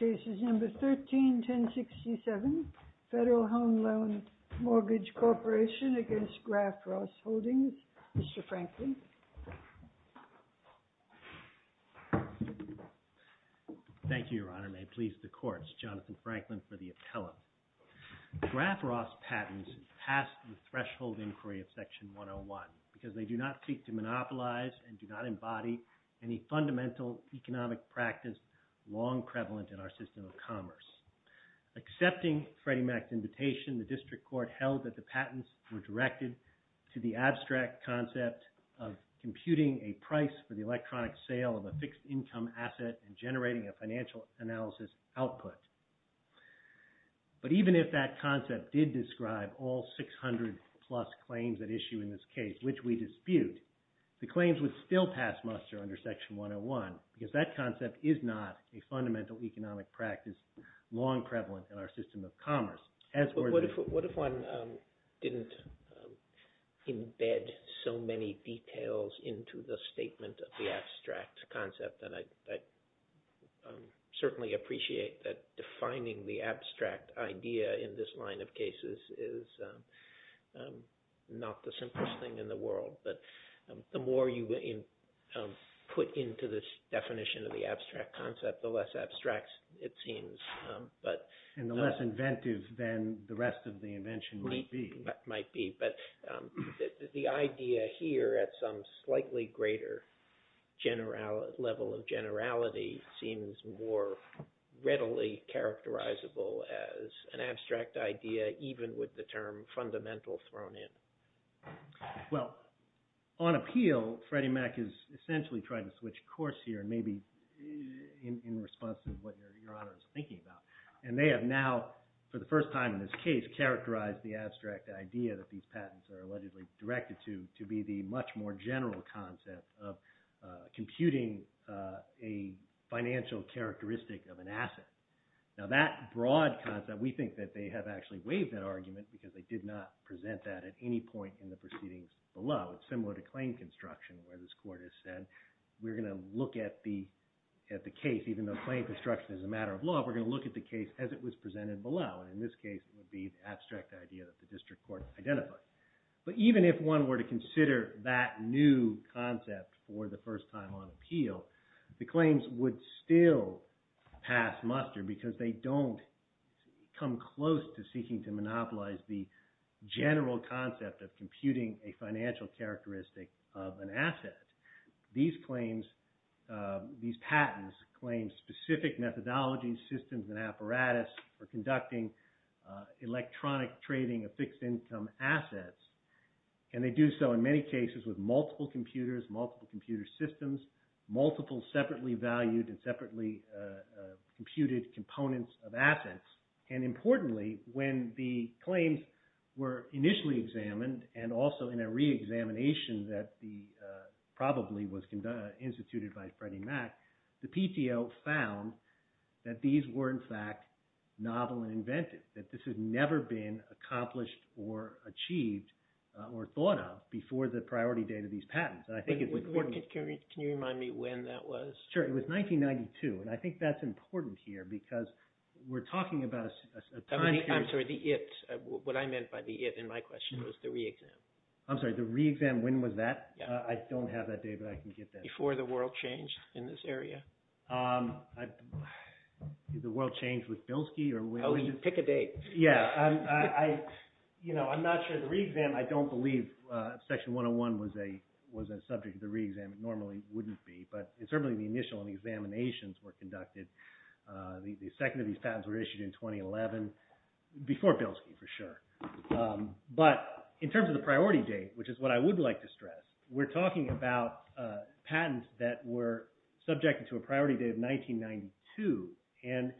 131067, Federal Home Loan Mortgage Corporation v. Graff-Ross Holdings, Mr. Franklin. Thank you, Your Honor. May it please the courts, Jonathan Franklin for the appellate. Graff-Ross patents pass the threshold inquiry of Section 101 because they do not seek to monopolize and do not embody any fundamental economic practice long prevalent in our system of commerce. Accepting Freddie Mac's invitation, the District Court held that the patents were directed to the abstract concept of computing a price for the electronic sale of a fixed income asset and generating a all 600-plus claims at issue in this case, which we dispute, the claims would still pass muster under Section 101 because that concept is not a fundamental economic practice long prevalent in our system of commerce. But what if one didn't embed so many details into the statement of the abstract concept? And I certainly appreciate that defining the abstract idea in this line of cases is not the simplest thing in the world, but the more you put into this definition of the abstract concept, the less abstract it seems. And the less inventive than the rest of the invention might be. Might be, but the idea here at some slightly greater level of generality seems more even with the term fundamental thrown in. Well, on appeal, Freddie Mac is essentially trying to switch course here and maybe in response to what Your Honor is thinking about. And they have now, for the first time in this case, characterized the abstract idea that these patents are allegedly directed to, to be the much more general concept of computing a financial characteristic of an argument because they did not present that at any point in the proceedings below. It's similar to claim construction where this court has said, we're going to look at the case, even though claim construction is a matter of law, we're going to look at the case as it was presented below. And in this case, it would be the abstract idea that the district court identified. But even if one were to consider that new concept for the first time on appeal, the claims would still pass muster because they don't come close to seeking to monopolize the general concept of computing a financial characteristic of an asset. These claims, these patents claim specific methodology systems and apparatus for conducting electronic trading of fixed income assets. And they do so in many cases with multiple computers, multiple computer systems, multiple separately valued and separately computed components of assets. And importantly, when the claims were initially examined, and also in a re-examination that probably was instituted by Freddie Mac, the PTO found that these were in fact novel and inventive, that this had never been accomplished or achieved or thought of before the priority date of these patents. And I think it was... Can you remind me when that was? Sure. It was 1992. And I think that's important here because we're talking about a time period... I'm sorry, the it, what I meant by the it in my question was the re-exam. I'm sorry, the re-exam, when was that? I don't have that data, but I can get that. Before the world changed in this area. Did the world change with Bilski or when... Oh, you pick a date. Yeah. I'm not sure. The re-exam, I don't believe Section 101 was a subject of the re-exam. It wouldn't be, but certainly the initial and the examinations were conducted. The second of these patents were issued in 2011, before Bilski for sure. But in terms of the priority date, which is what I would like to stress, we're talking about patents that were subjected to a priority date of 1992. And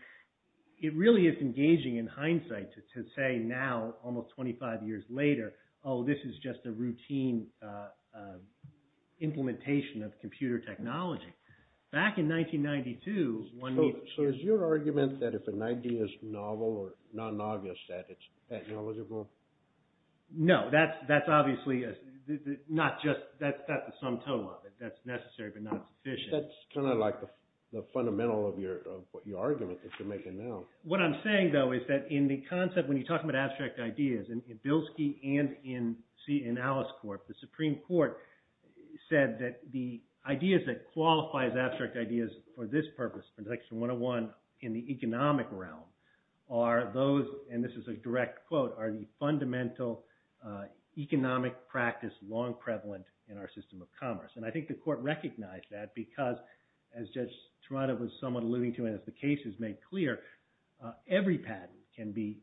it really is engaging in hindsight to say now, almost 25 years later, oh, this is just a routine implementation of computer technology. Back in 1992, one needs... So is your argument that if an idea is novel or non-obvious, that it's technological? No, that's obviously not just, that's not the sum total of it. That's necessary, but not sufficient. That's kind of like the fundamental of your argument that you're making now. What I'm saying, though, is that in the concept, when you're talking about abstract ideas and in Alice's court, the Supreme Court said that the ideas that qualify as abstract ideas for this purpose, for Section 101 in the economic realm, are those, and this is a direct quote, are the fundamental economic practice long prevalent in our system of commerce. And I think the court recognized that because, as Judge Trotter was somewhat alluding to, and as the case has made clear, every patent can be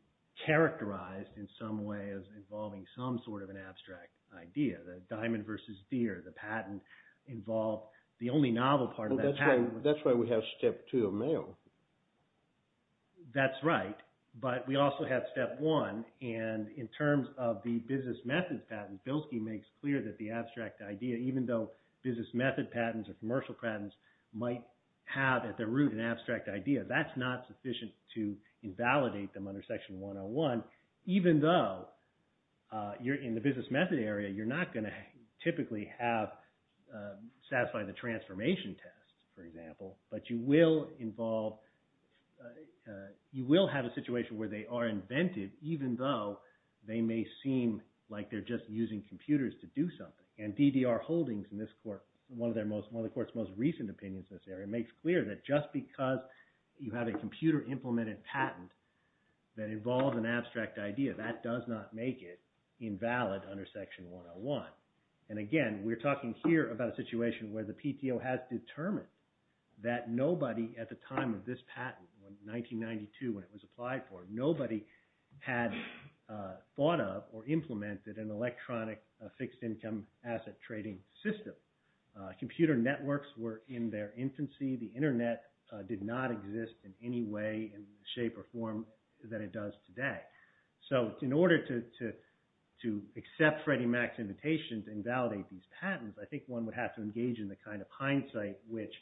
characterized in some way as involving some sort of an abstract idea. The diamond versus deer, the patent involved, the only novel part of that patent... That's why we have Step 2 of Mayo. That's right, but we also have Step 1, and in terms of the business methods patent, Bilski makes clear that the abstract idea, even though business method patents or commercial patents might have at their root an abstract idea, that's not sufficient to invalidate them under Section 101, even though in the business method area, you're not going to typically have satisfy the transformation test, for example, but you will have a situation where they are invented even though they may seem like they're just using computers to do something. And DDR Holdings in this court, one of the court's most recent opinions in this area, makes clear that just because you have a computer-implemented patent that involves an abstract idea, that does not make it invalid under Section 101. And again, we're talking here about a situation where the PTO has determined that nobody at the time of this patent, in 1992 when it was applied for, nobody had thought of or implemented an electronic fixed income asset trading system. Computer networks were in their infancy. The internet did not exist in any way, shape, or form that it does today. So in order to accept Freddie Mac's invitation to invalidate these patents, I think one would have to engage in the kind of hindsight which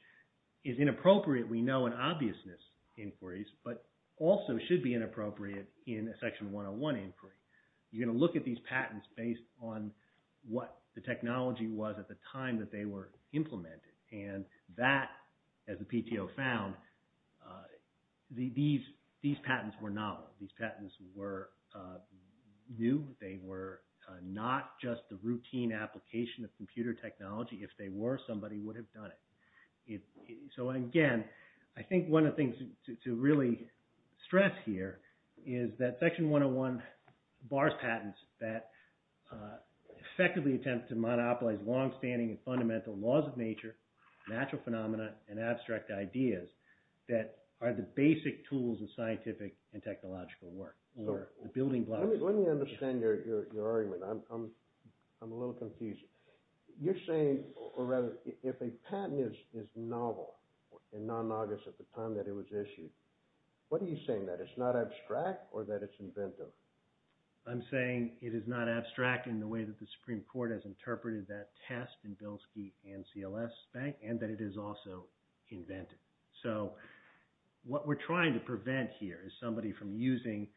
is inappropriate, we know, in obviousness inquiries, but also should be inappropriate in a Section 101 inquiry. You're going to look at these and that, as the PTO found, these patents were novel. These patents were new. They were not just the routine application of computer technology. If they were, somebody would have done it. So again, I think one of the things to really stress here is that Section 101 bars patents that effectively attempt to monopolize long-standing and fundamental laws of nature, natural phenomena, and abstract ideas that are the basic tools of scientific and technological work, or the building blocks. Let me understand your argument. I'm a little confused. You're saying, or rather, if a patent is novel and non-novice at the time that it was invented, I'm saying it is not abstract in the way that the Supreme Court has interpreted that test in Bilski and CLS Bank, and that it is also invented. So what we're trying to prevent here is somebody from using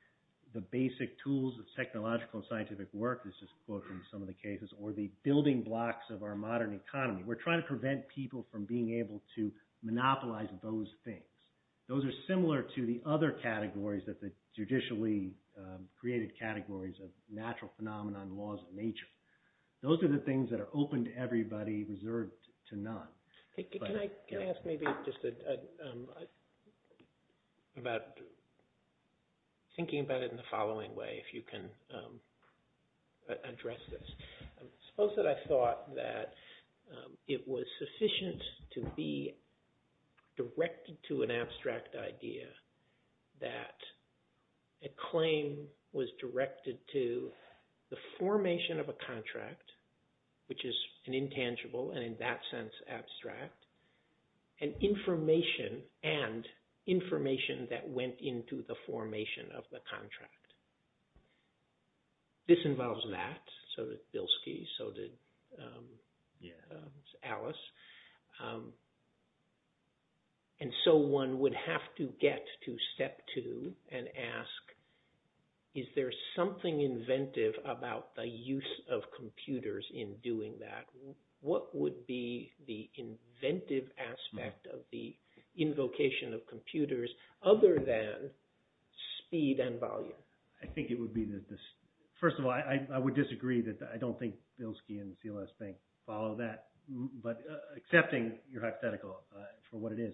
the basic tools of technological and scientific work, this is quoted in some of the cases, or the building blocks of our modern economy. We're trying to prevent people from being able to monopolize those things. Those are similar to the other created categories of natural phenomena and laws of nature. Those are the things that are open to everybody, reserved to none. Can I ask maybe just about thinking about it in the following way, if you can address this. Suppose that I thought that it was sufficient to be directed to an abstract idea that a claim was directed to the formation of a contract, which is an intangible and in that sense abstract, and information that went into the formation of one would have to get to step two and ask, is there something inventive about the use of computers in doing that? What would be the inventive aspect of the invocation of computers other than speed and volume? I think it would be, first of all, I would disagree that I don't think you're hypothetical for what it is.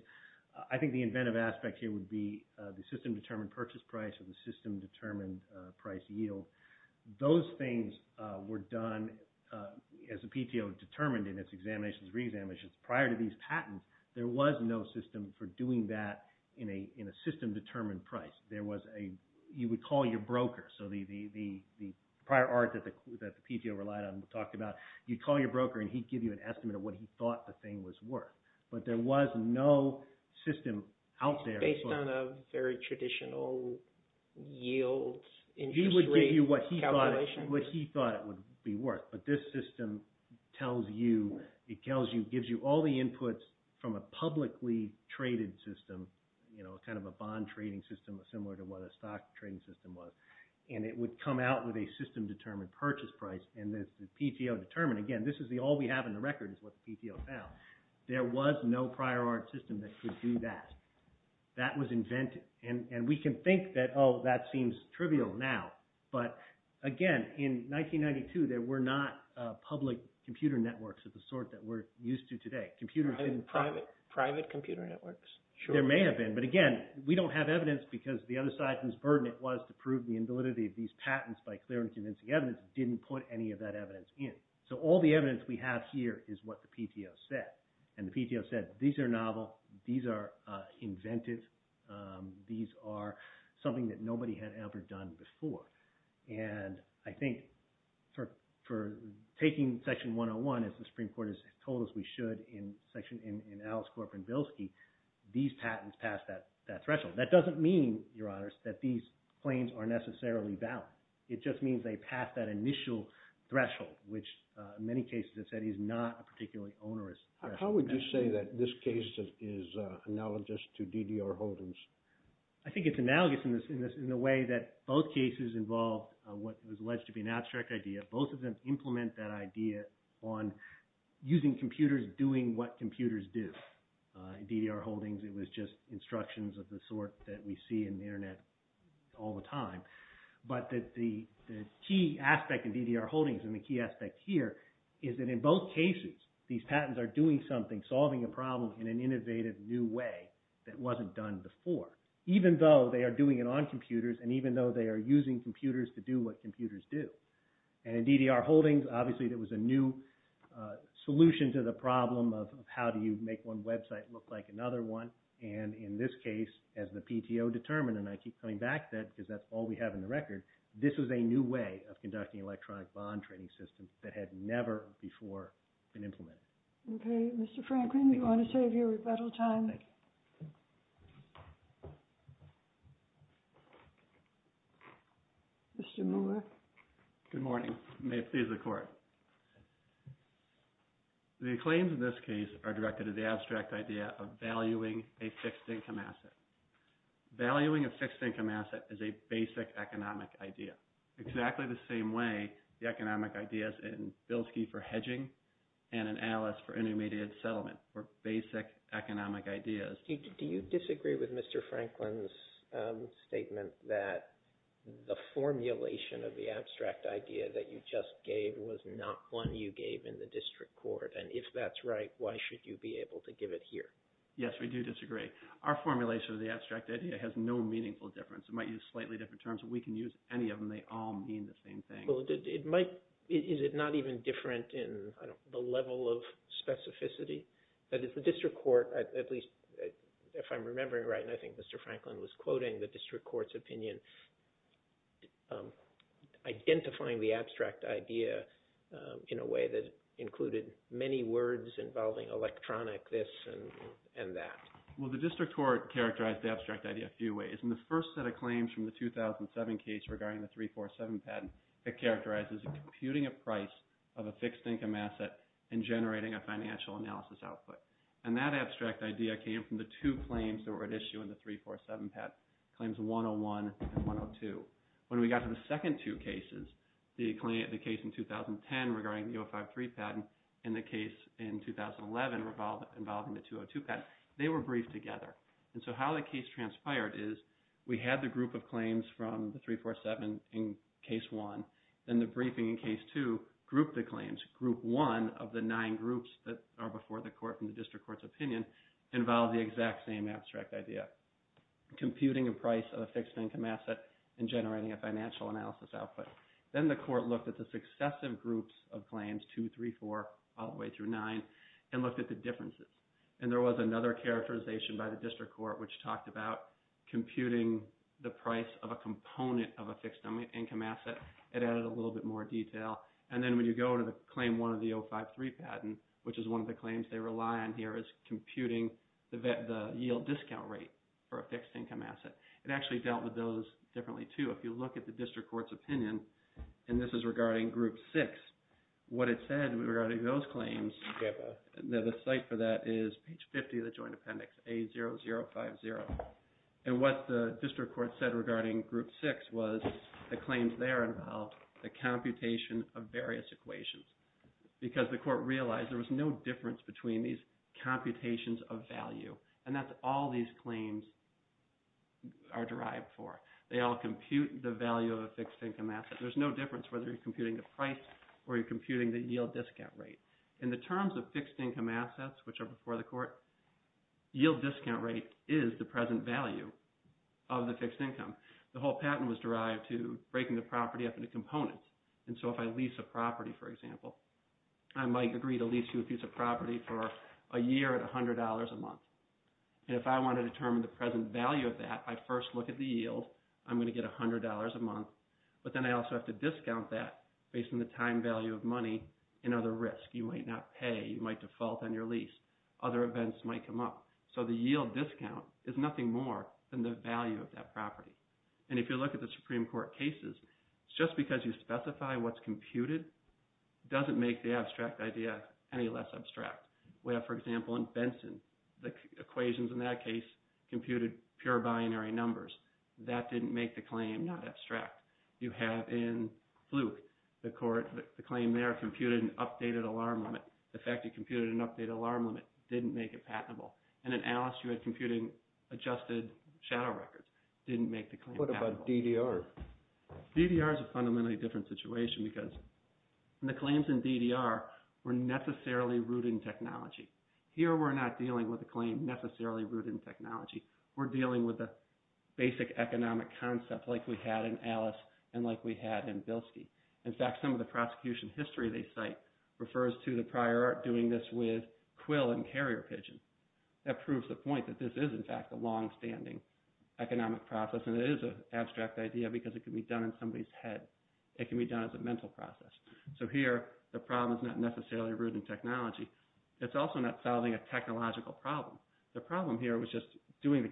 I think the inventive aspect here would be the system determined purchase price or the system determined price yield. Those things were done, as the PTO determined in its examinations and re-examinations, prior to these patents, there was no system for doing that in a system determined price. You would call your broker, so the prior art that the PTO relied on and talked about, you'd call your broker and he'd give you an estimate of what he thought the thing was worth, but there was no system out there. It's based on a very traditional yield industry calculation? He would give you what he thought it would be worth, but this system tells you, it gives you all the inputs from a publicly traded system, kind of a bond trading system, similar to what a stock trading system was, and it would come out with a system determined purchase price and the PTO determined, again, this is all we have in the record is what the PTO found. There was no prior art system that could do that. That was inventive, and we can think that, oh, that seems trivial now, but again, in 1992, there were not public computer networks of the sort that we're used to today. Private computer networks? There may have been, but again, we don't have evidence because the other side's burden was to prove the invalidity of these patents by clear and convincing evidence, didn't put any of that evidence in. So all the evidence we have here is what the PTO said, and the PTO said, these are novel, these are inventive, these are something that nobody had ever done before, and I think for taking Section 101, as the Supreme Court has told us we should in Alice Corp and Bilski, these patents pass that threshold. That doesn't mean, Your Honors, that these claims are necessarily valid. It just means they pass that initial threshold, which many cases have said is not a particularly onerous threshold. How would you say that this case is analogous to D.D.R. Holden's? I think it's analogous in the way that both cases involved what was alleged to be an abstract idea. Both of them implement that idea on using computers doing what computers do. In D.D.R. Holden's, it was just instructions of the sort that we see in the internet all the time, but that the key aspect in D.D.R. Holden's and the key aspect here is that in both cases, these patents are doing something, solving a problem in an innovative new way that wasn't done before, even though they are doing it on computers and even though they are using computers to do what computers do. And in D.D.R. Holden's, obviously, there was a new solution to the problem of how do you make one website look like another one. And in this case, as the PTO determined, and I keep coming back to that because that's all we have in the record, this was a new way of conducting electronic bond trading systems that had never before been implemented. Okay, Mr. Franklin, we want to save your rebuttal time. Mr. Moore. Good morning. May it please the court. The claims in this case are directed to the abstract idea of valuing a fixed income asset. Valuing a fixed income asset is a basic economic idea, exactly the same way the economic ideas in economic ideas. Do you disagree with Mr. Franklin's statement that the formulation of the abstract idea that you just gave was not one you gave in the district court? And if that's right, why should you be able to give it here? Yes, we do disagree. Our formulation of the abstract idea has no meaningful difference. It might use slightly different terms. We can use any of them. They all mean the same thing. Well, it might. Is it not even different in the level of specificity that the district court, at least if I'm remembering right, and I think Mr. Franklin was quoting the district court's opinion, identifying the abstract idea in a way that included many words involving electronic, this and that? Well, the district court characterized the abstract idea a few ways. In the first set of claims from the 2007 case regarding the 347 patent, it characterizes computing a price of a fixed income asset and generating a financial analysis output. And that abstract idea came from the two claims that were at issue in the 347 patent, claims 101 and 102. When we got to the second two cases, the case in 2010 regarding the 053 patent and the case in 2011 involving the 202 patent, they were briefed together. And so how the case transpired is we had the group of claims from the 347 in case one, then the briefing in case two grouped the claims. Group one of the nine groups that are before the court from the district court's opinion involved the exact same abstract idea, computing a price of a fixed income asset and generating a financial analysis output. Then the court looked at the successive groups of claims, 2, 3, 4, all the way through 9, and looked at the differences. And there was another characterization by the district court which talked about computing the yield discount rate for a fixed income asset. It actually dealt with those differently too. If you look at the district court's opinion, and this is regarding group six, what it said regarding those claims, the site for that is page 50 of the joint appendix, A0050. And what the district court said regarding group six was the claims there involved the computation of various equations. Because the court realized there was no difference between these computations of value. And that's all these claims are derived for. They all compute the value of a fixed income asset. There's no difference whether you're computing the price or you're computing the yield discount rate. In the terms of fixed income assets, which are before the court, yield discount rate is the present value of the fixed income. The whole patent was derived to breaking the property up into components. And so if I lease a property, for example, I might agree to lease you a piece of property for a year at $100 a month. And if I want to determine the present value of that, I first look at the yield, I'm going to get $100 a month. But then I also have to discount that based on the time value of money and other risks. You might not pay, you might default on your lease, other events might come up. So the yield discount is nothing more than the value of that property. And if you look at the Supreme Court cases, just because you specify what's computed doesn't make the abstract idea any less abstract. We have, for example, in Benson, the equations in that case computed pure binary numbers. That didn't make the claim not abstract. You have in Fluke, the court, the claim there computed an updated alarm limit. The fact you computed an updated alarm limit didn't make it patentable. And in Alice, you had computed adjusted shadow records, didn't make the claim patentable. What about DDR? DDR is a fundamentally different situation because the claims in DDR were necessarily rooted in technology. Here, we're not dealing with a claim necessarily rooted in technology. We're dealing with a basic economic concept like we had in Alice and like we had in Bilski. In fact, some of the prosecution history they cite refers to the prior art doing this with quill and carrier pigeon. That proves the point that this is, in fact, a longstanding economic process. And it is an abstract idea because it can be done in somebody's head. It can be done as a mental process. So here, the problem is not necessarily rooted in technology. It's also not solving a technological problem. The problem here was just doing the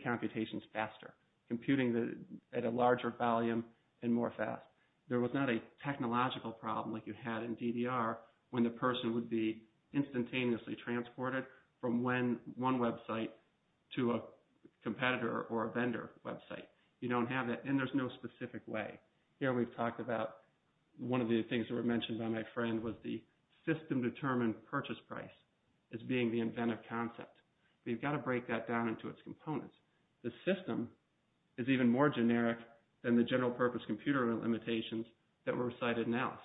There was not a technological problem like you had in DDR when the person would be instantaneously transported from one website to a competitor or a vendor website. You don't have that. And there's no specific way. Here, we've talked about one of the things that were mentioned by my friend was the system-determined purchase price as being the inventive concept. We've got to break that down into its components. The system is even more generic than the general-purpose computer limitations that were cited in Alice.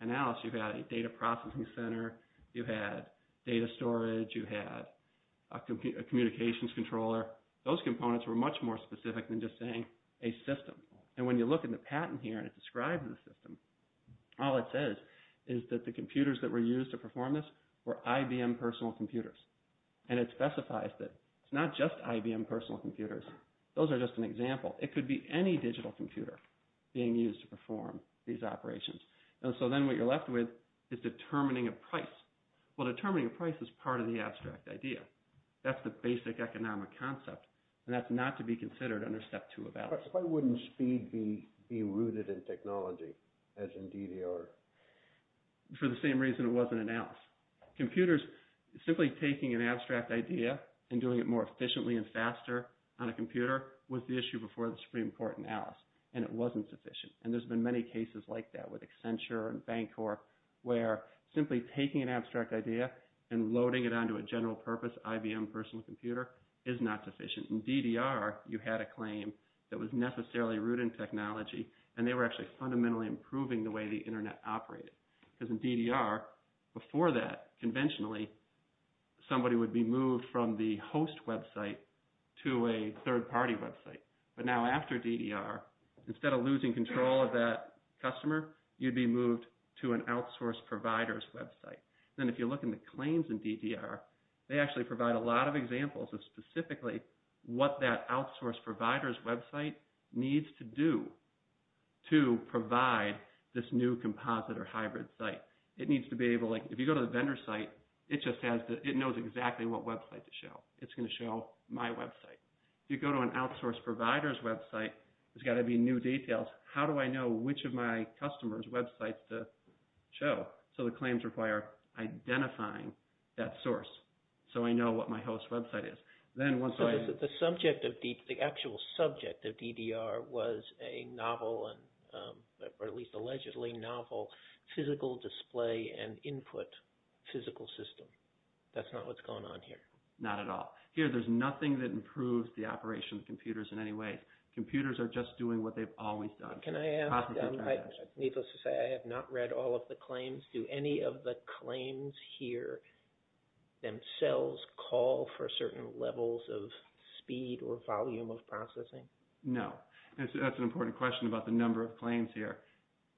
In Alice, you've got a data processing center. You had data storage. You had a communications controller. Those components were much more specific than just saying a system. And when you look in the patent here and it describes the system, all it says is that the computers that were used to perform this were IBM personal computers. And it specifies that it's not just IBM personal computers. Those are just an example. It could be any digital computer being used to perform these operations. And so then what you're left with is determining a price. Well, determining a price is part of the abstract idea. That's the basic economic concept, and that's not to be considered under Step 2 of Alice. Why wouldn't speed be rooted in technology as in DDR? For the same reason it was in Alice. Computers, simply taking an abstract idea and doing it more is pretty important in Alice, and it wasn't sufficient. And there's been many cases like that with Accenture and Bancorp where simply taking an abstract idea and loading it onto a general-purpose IBM personal computer is not sufficient. In DDR, you had a claim that was necessarily rooted in technology, and they were actually fundamentally improving the way the Internet operated. Because in DDR, before that, conventionally, somebody would be moved from the host website to a third-party website. But now after DDR, instead of losing control of that customer, you'd be moved to an outsourced provider's website. Then if you look in the claims in DDR, they actually provide a lot of examples of specifically what that outsourced provider's website needs to do to provide this new composite or hybrid site. It needs to be able, like, if you If you go to an outsourced provider's website, there's got to be new details. How do I know which of my customers' websites to show? So the claims require identifying that source so I know what my host website is. Then once I... So the actual subject of DDR was a novel, or at least allegedly novel, physical display and input physical system. That's not what's on here. Not at all. Here, there's nothing that improves the operation of computers in any way. Computers are just doing what they've always done. Can I ask, needless to say, I have not read all of the claims. Do any of the claims here themselves call for certain levels of speed or volume of processing? No. That's an important question about the number of claims here.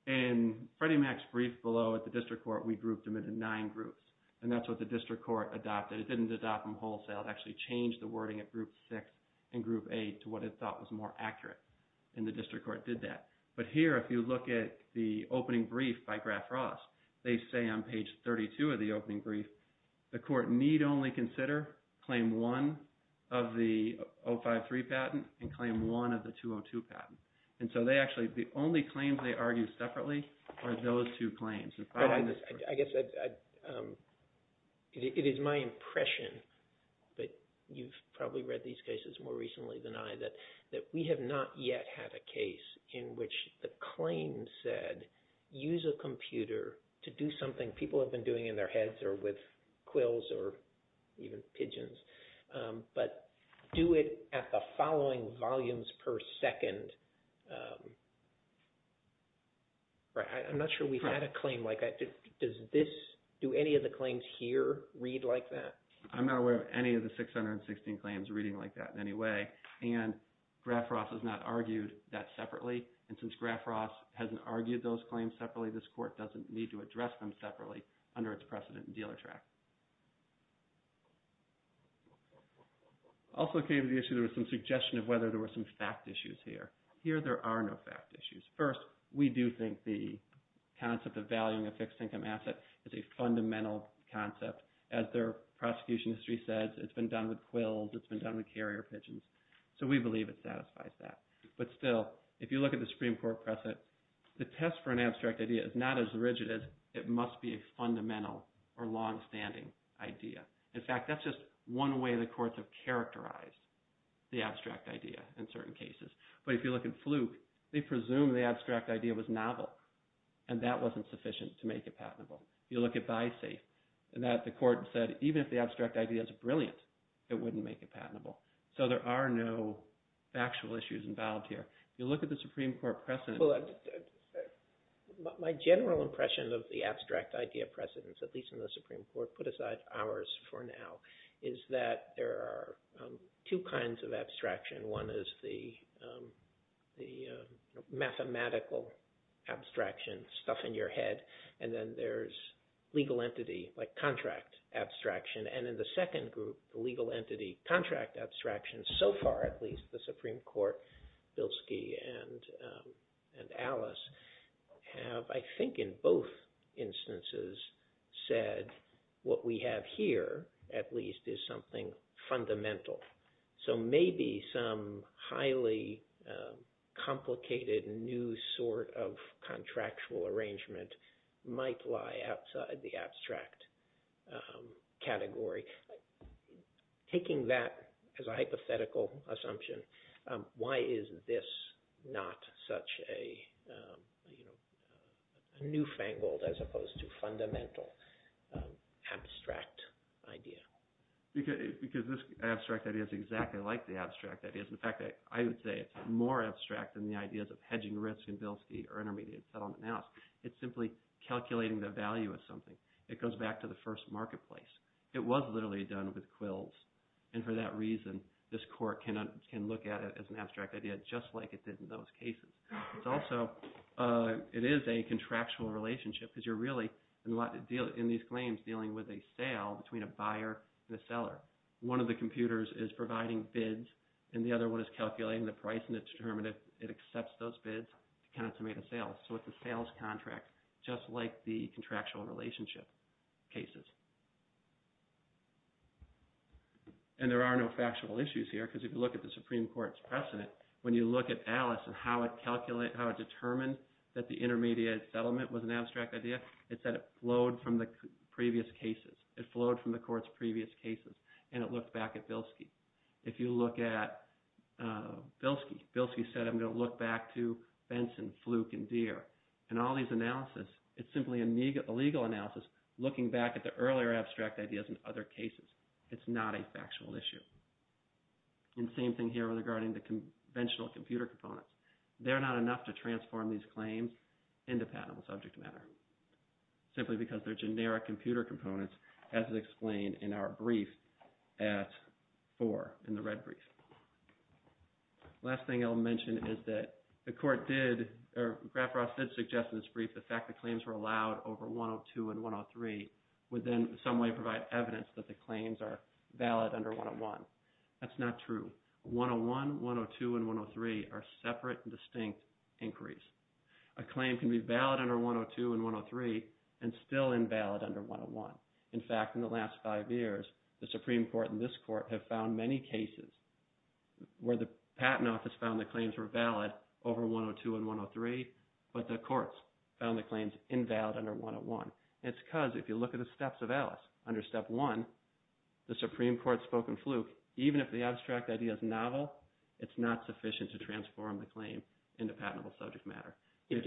In Freddie Mac's brief below at the district court, we grouped them into nine groups, and that's what the district court adopted. It didn't adopt them wholesale. It actually changed the wording at group six and group eight to what it thought was more accurate, and the district court did that. But here, if you look at the opening brief by Graf Ross, they say on page 32 of the opening brief, the court need only consider claim one of the 053 patent and claim one of the 202 patent. And so they actually, the only claims they argue separately are those two claims. It is my impression, but you've probably read these cases more recently than I, that we have not yet had a case in which the claim said, use a computer to do something people have been doing in their heads or with quills or even pigeons, but do it at the following volumes per second. I'm not sure we've had a claim like that. Do any of the claims here read like that? I'm not aware of any of the 616 claims reading like that in any way, and Graf Ross has not argued that separately. And since Graf Ross hasn't argued those claims separately, this court doesn't need to address them separately under its precedent in dealer track. Also came to the issue, there was some suggestion of whether there were some fact issues here. Here, there are no fact issues. First, we do think the concept of valuing a fixed income asset is a fundamental concept. As their prosecution history says, it's been done with quills, it's been done with carrier pigeons. So we believe it satisfies that. But still, if you look at the Supreme Court precedent, the test for an abstract idea is not as rigid as it must be a fundamental or longstanding idea. In fact, that's just one way the courts have characterized the abstract idea in certain cases. But if you look at Fluke, they presume the abstract idea was novel, and that wasn't sufficient to make it patentable. If you look at Bisafe, the court said even if the abstract idea is brilliant, it wouldn't make it patentable. So there are no factual issues involved here. If you look at the Supreme Court precedent… abstract idea precedents, at least in the Supreme Court, put aside ours for now, is that there are two kinds of abstraction. One is the mathematical abstraction, stuff in your head, and then there's legal entity, like contract abstraction. And in the second group, legal entity, contract abstraction. So far, at least, the Supreme Court, Bilski and Alice, have, I think in both instances, said what we have here, at least, is something fundamental. So maybe some highly complicated new sort of contractual arrangement might lie outside the you know, newfangled as opposed to fundamental abstract idea. Because this abstract idea is exactly like the abstract idea. In fact, I would say it's more abstract than the ideas of hedging risk in Bilski or intermediate settlement analysis. It's simply calculating the value of something. It goes back to the first marketplace. It was literally done with quills. And for that reason, this court can look at it as an abstract idea, just like it did in those cases. It's also, it is a contractual relationship, because you're really, in these claims, dealing with a sale between a buyer and a seller. One of the computers is providing bids, and the other one is calculating the price, and it's determined if it accepts those bids to kind of to make a sale. So it's a sales contract, just like the contractual relationship cases. And there are no factual issues here, because if you look at the Supreme Court's case, if you look at Alice and how it calculated, how it determined that the intermediate settlement was an abstract idea, it said it flowed from the previous cases. It flowed from the court's previous cases, and it looked back at Bilski. If you look at Bilski, Bilski said, I'm going to look back to Benson, Fluke, and Deere. And all these analysis, it's simply a legal analysis, looking back at the earlier abstract ideas in other cases. It's not a factual issue. And same thing here regarding the conventional computer components. They're not enough to transform these claims into patentable subject matter, simply because they're generic computer components, as is explained in our brief at 4, in the red brief. Last thing I'll mention is that the court did, or Graf Ross did suggest in this brief, the fact that claims were allowed over 102 and 103 would then in some way provide evidence that the claims are valid under 101. That's not true. 101, 102, and 103 are separate and distinct inquiries. A claim can be valid under 102 and 103 and still invalid under 101. In fact, in the last five years, the Supreme Court and this court have found many cases where the patent office found the claims were valid over 102 and 103, but the courts found the claims invalid under 101. It's because if you look at the steps of Alice under step one, the Supreme Court's spoken fluke, even if the abstract idea is novel, it's not sufficient to transform the claim into patentable subject matter. Do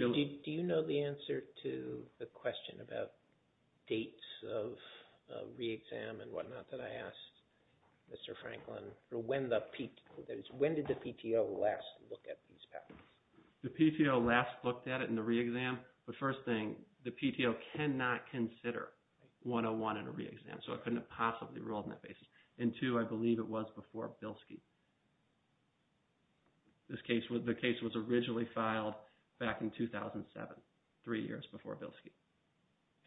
you know the answer to the question about dates of re-exam and whatnot that I asked, Mr. Franklin, or when did the PTO last look at these patents? The PTO last looked at it in the re-exam, but first thing, the PTO cannot consider 101 in a re-exam, so it couldn't have possibly ruled on that basis. And two, I believe it was before Bilski. The case was originally filed back in 2007, three years before Bilski.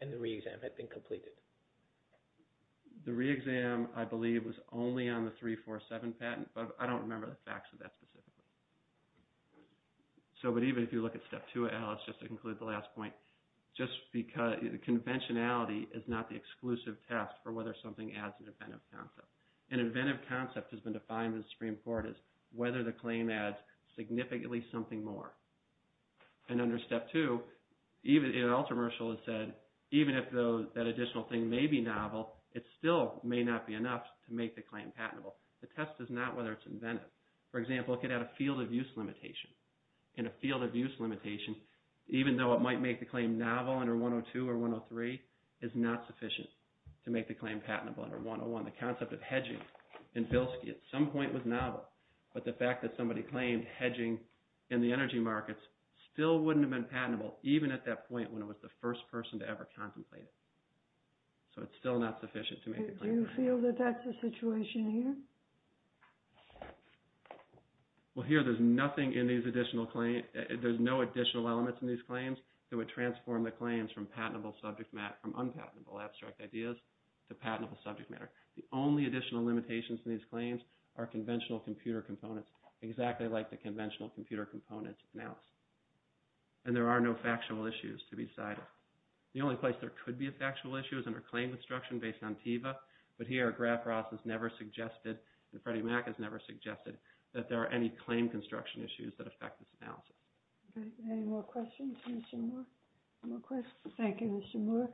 And the re-exam had been completed? The re-exam, I believe, was only on the 347 patent, but I don't remember the facts of that specifically. But even if you look at step two, Alice, just to conclude the last point, just because conventionality is not the exclusive test for whether something adds an inventive concept. An inventive concept has been defined in the Supreme Court as whether the claim adds significantly something more. And under step two, in ultramarital it said, even if that additional thing may be novel, it still may not be enough to make the claim patentable. The test is not whether it's inventive. For example, it could add a field of use limitation. And a field of use limitation, even though it might make the claim novel under 102 or 103, is not sufficient to make the claim patentable under 101. The concept of hedging in Bilski at some point was novel, but the fact that somebody claimed hedging in the energy markets still wouldn't have been patentable, even at that point when it was the first person to ever contemplate it. So it's still not sufficient to make the claim. Do you feel that that's the situation here? Well, here there's nothing in these additional claims. There's no additional elements in these claims that would transform the claims from unpatentable abstract ideas to patentable subject matter. The only additional limitations in these claims are conventional computer components, exactly like the conventional computer components analysis. And there are no factual issues to be cited. The only place there could be a factual issue is under claim construction based on TIVA, but here Graf Ross has never suggested, and Freddie Mac has never suggested, that there are any claim construction issues that affect this analysis. Any more questions for Mr. Moore? Thank you, Mr. Moore.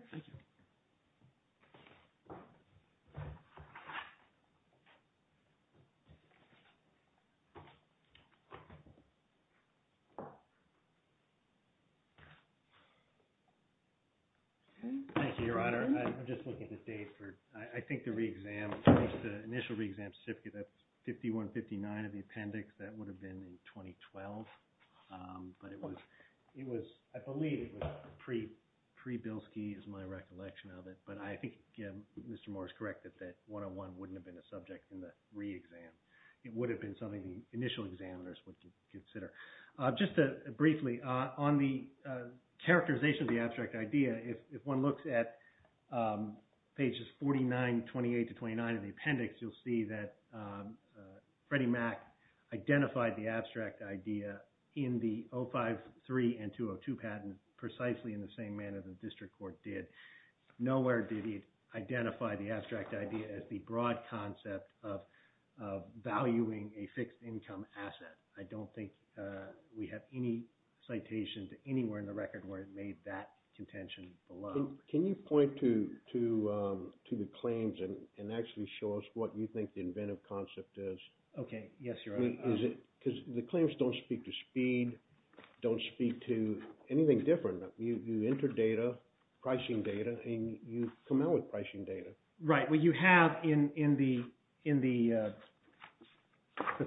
Thank you, Your Honor. I'm just looking at the date. I think the initial re-exam that's 5159 of the appendix, that would have been in 2012, but I believe it was pre-Bilski, is my recollection of it. But I think Mr. Moore is correct that that 101 wouldn't have been a subject in the re-exam. It would have been something the initial examiners would consider. Just briefly, on the characterization of the abstract idea, if one looks at pages 49, 28 to 29 of the appendix, you'll see that Freddie Mac identified the abstract idea in the 053 and 202 patent, precisely in the same manner the district court did. Nowhere did he identify the abstract idea as the broad concept of valuing a fixed income asset. I don't think we have any citations anywhere in the record where it made that contention. Can you point to the claims and actually show us what you think the inventive concept is? Okay. Yes, Your Honor. Because the claims don't speak to speed, don't speak to anything different. You enter data, pricing data, and you come out with pricing data. Right. Well, you have in the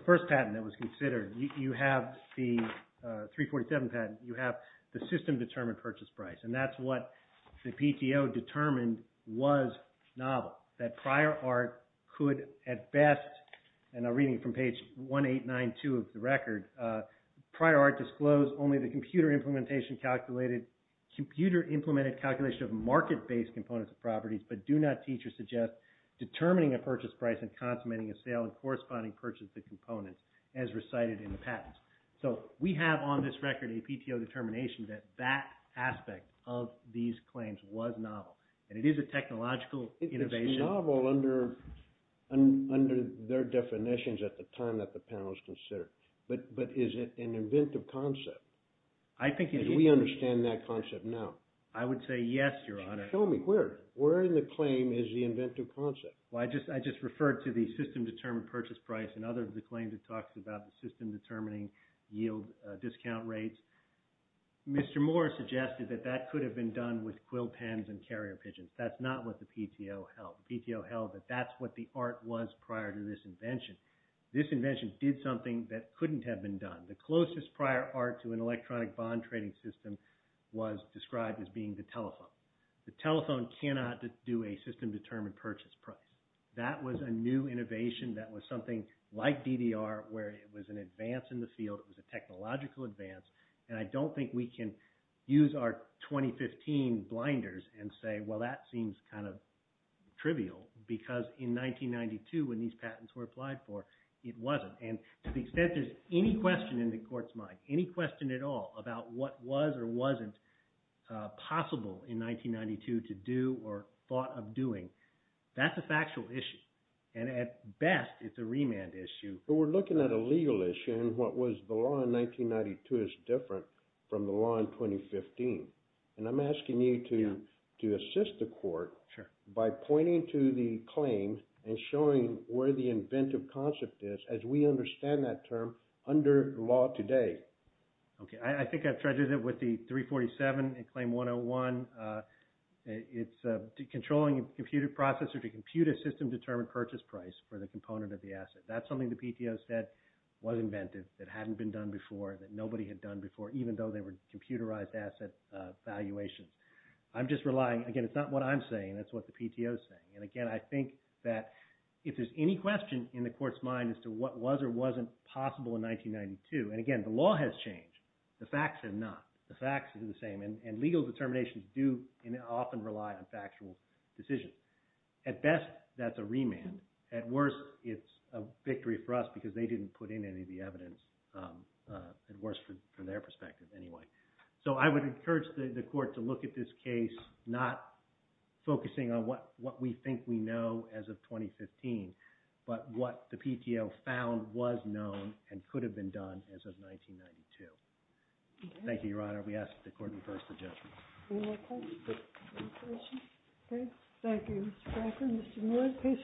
first patent that was considered, you have the 347 patent, you have the system-determined purchase price, and that's what the PTO determined was novel, that prior art could at best, and I'm reading from page 1892 of the record, prior art disclosed only the computer-implemented calculation of market-based components of properties, but do not teach or suggest determining a purchase price and consummating a sale and corresponding purchase of the components as recited in the patents. So we have on this record a PTO determination that that aspect of these claims was novel, and it is a technological innovation. It's novel under their definitions at the time that the panel has considered, but is it an inventive concept? I think it is. Do we understand that concept now? I would say yes, Your Honor. Show me where. Where in the claim is the inventive concept? Well, I just referred to the system-determined purchase price and other of the system-determining yield discount rates. Mr. Moore suggested that that could have been done with quill pens and carrier pigeons. That's not what the PTO held. The PTO held that that's what the art was prior to this invention. This invention did something that couldn't have been done. The closest prior art to an electronic bond trading system was described as being the telephone. The telephone cannot do a system-determined purchase price. That was a new where it was an advance in the field. It was a technological advance, and I don't think we can use our 2015 blinders and say, well, that seems kind of trivial because in 1992 when these patents were applied for, it wasn't. And to the extent there's any question in the court's mind, any question at all about what was or wasn't possible in 1992 to do or thought of doing, that's a factual issue. And at best, it's a remand issue. But we're looking at a legal issue and what was the law in 1992 is different from the law in 2015. And I'm asking you to assist the court by pointing to the claim and showing where the inventive concept is as we understand that term under law today. Okay. I think I've treasured it with the 347 in Claim 101. It's controlling a computer processor to compute a system-determined purchase price for the component of the asset. That's something the PTO said was inventive, that hadn't been done before, that nobody had done before, even though they were computerized asset valuations. I'm just relying, again, it's not what I'm saying. That's what the PTO is saying. And again, I think that if there's any question in the court's mind as to what was or wasn't possible in 1992, and again, the law has changed. The facts are not. The facts are the same. And legal determinations do often rely on factual decisions. At best, that's a remand. At worst, it's a victory for us because they didn't put in any of the evidence, at worst, from their perspective anyway. So I would encourage the court to look at this case, not focusing on what we think we know as of 2015, but what the PTO found was known and could have been done as of 1992. Thank you, Your Honor. We ask that the court refer suggestions. Any more questions? Okay. Thank you, Mr. Cracker. Mr. Moore, please.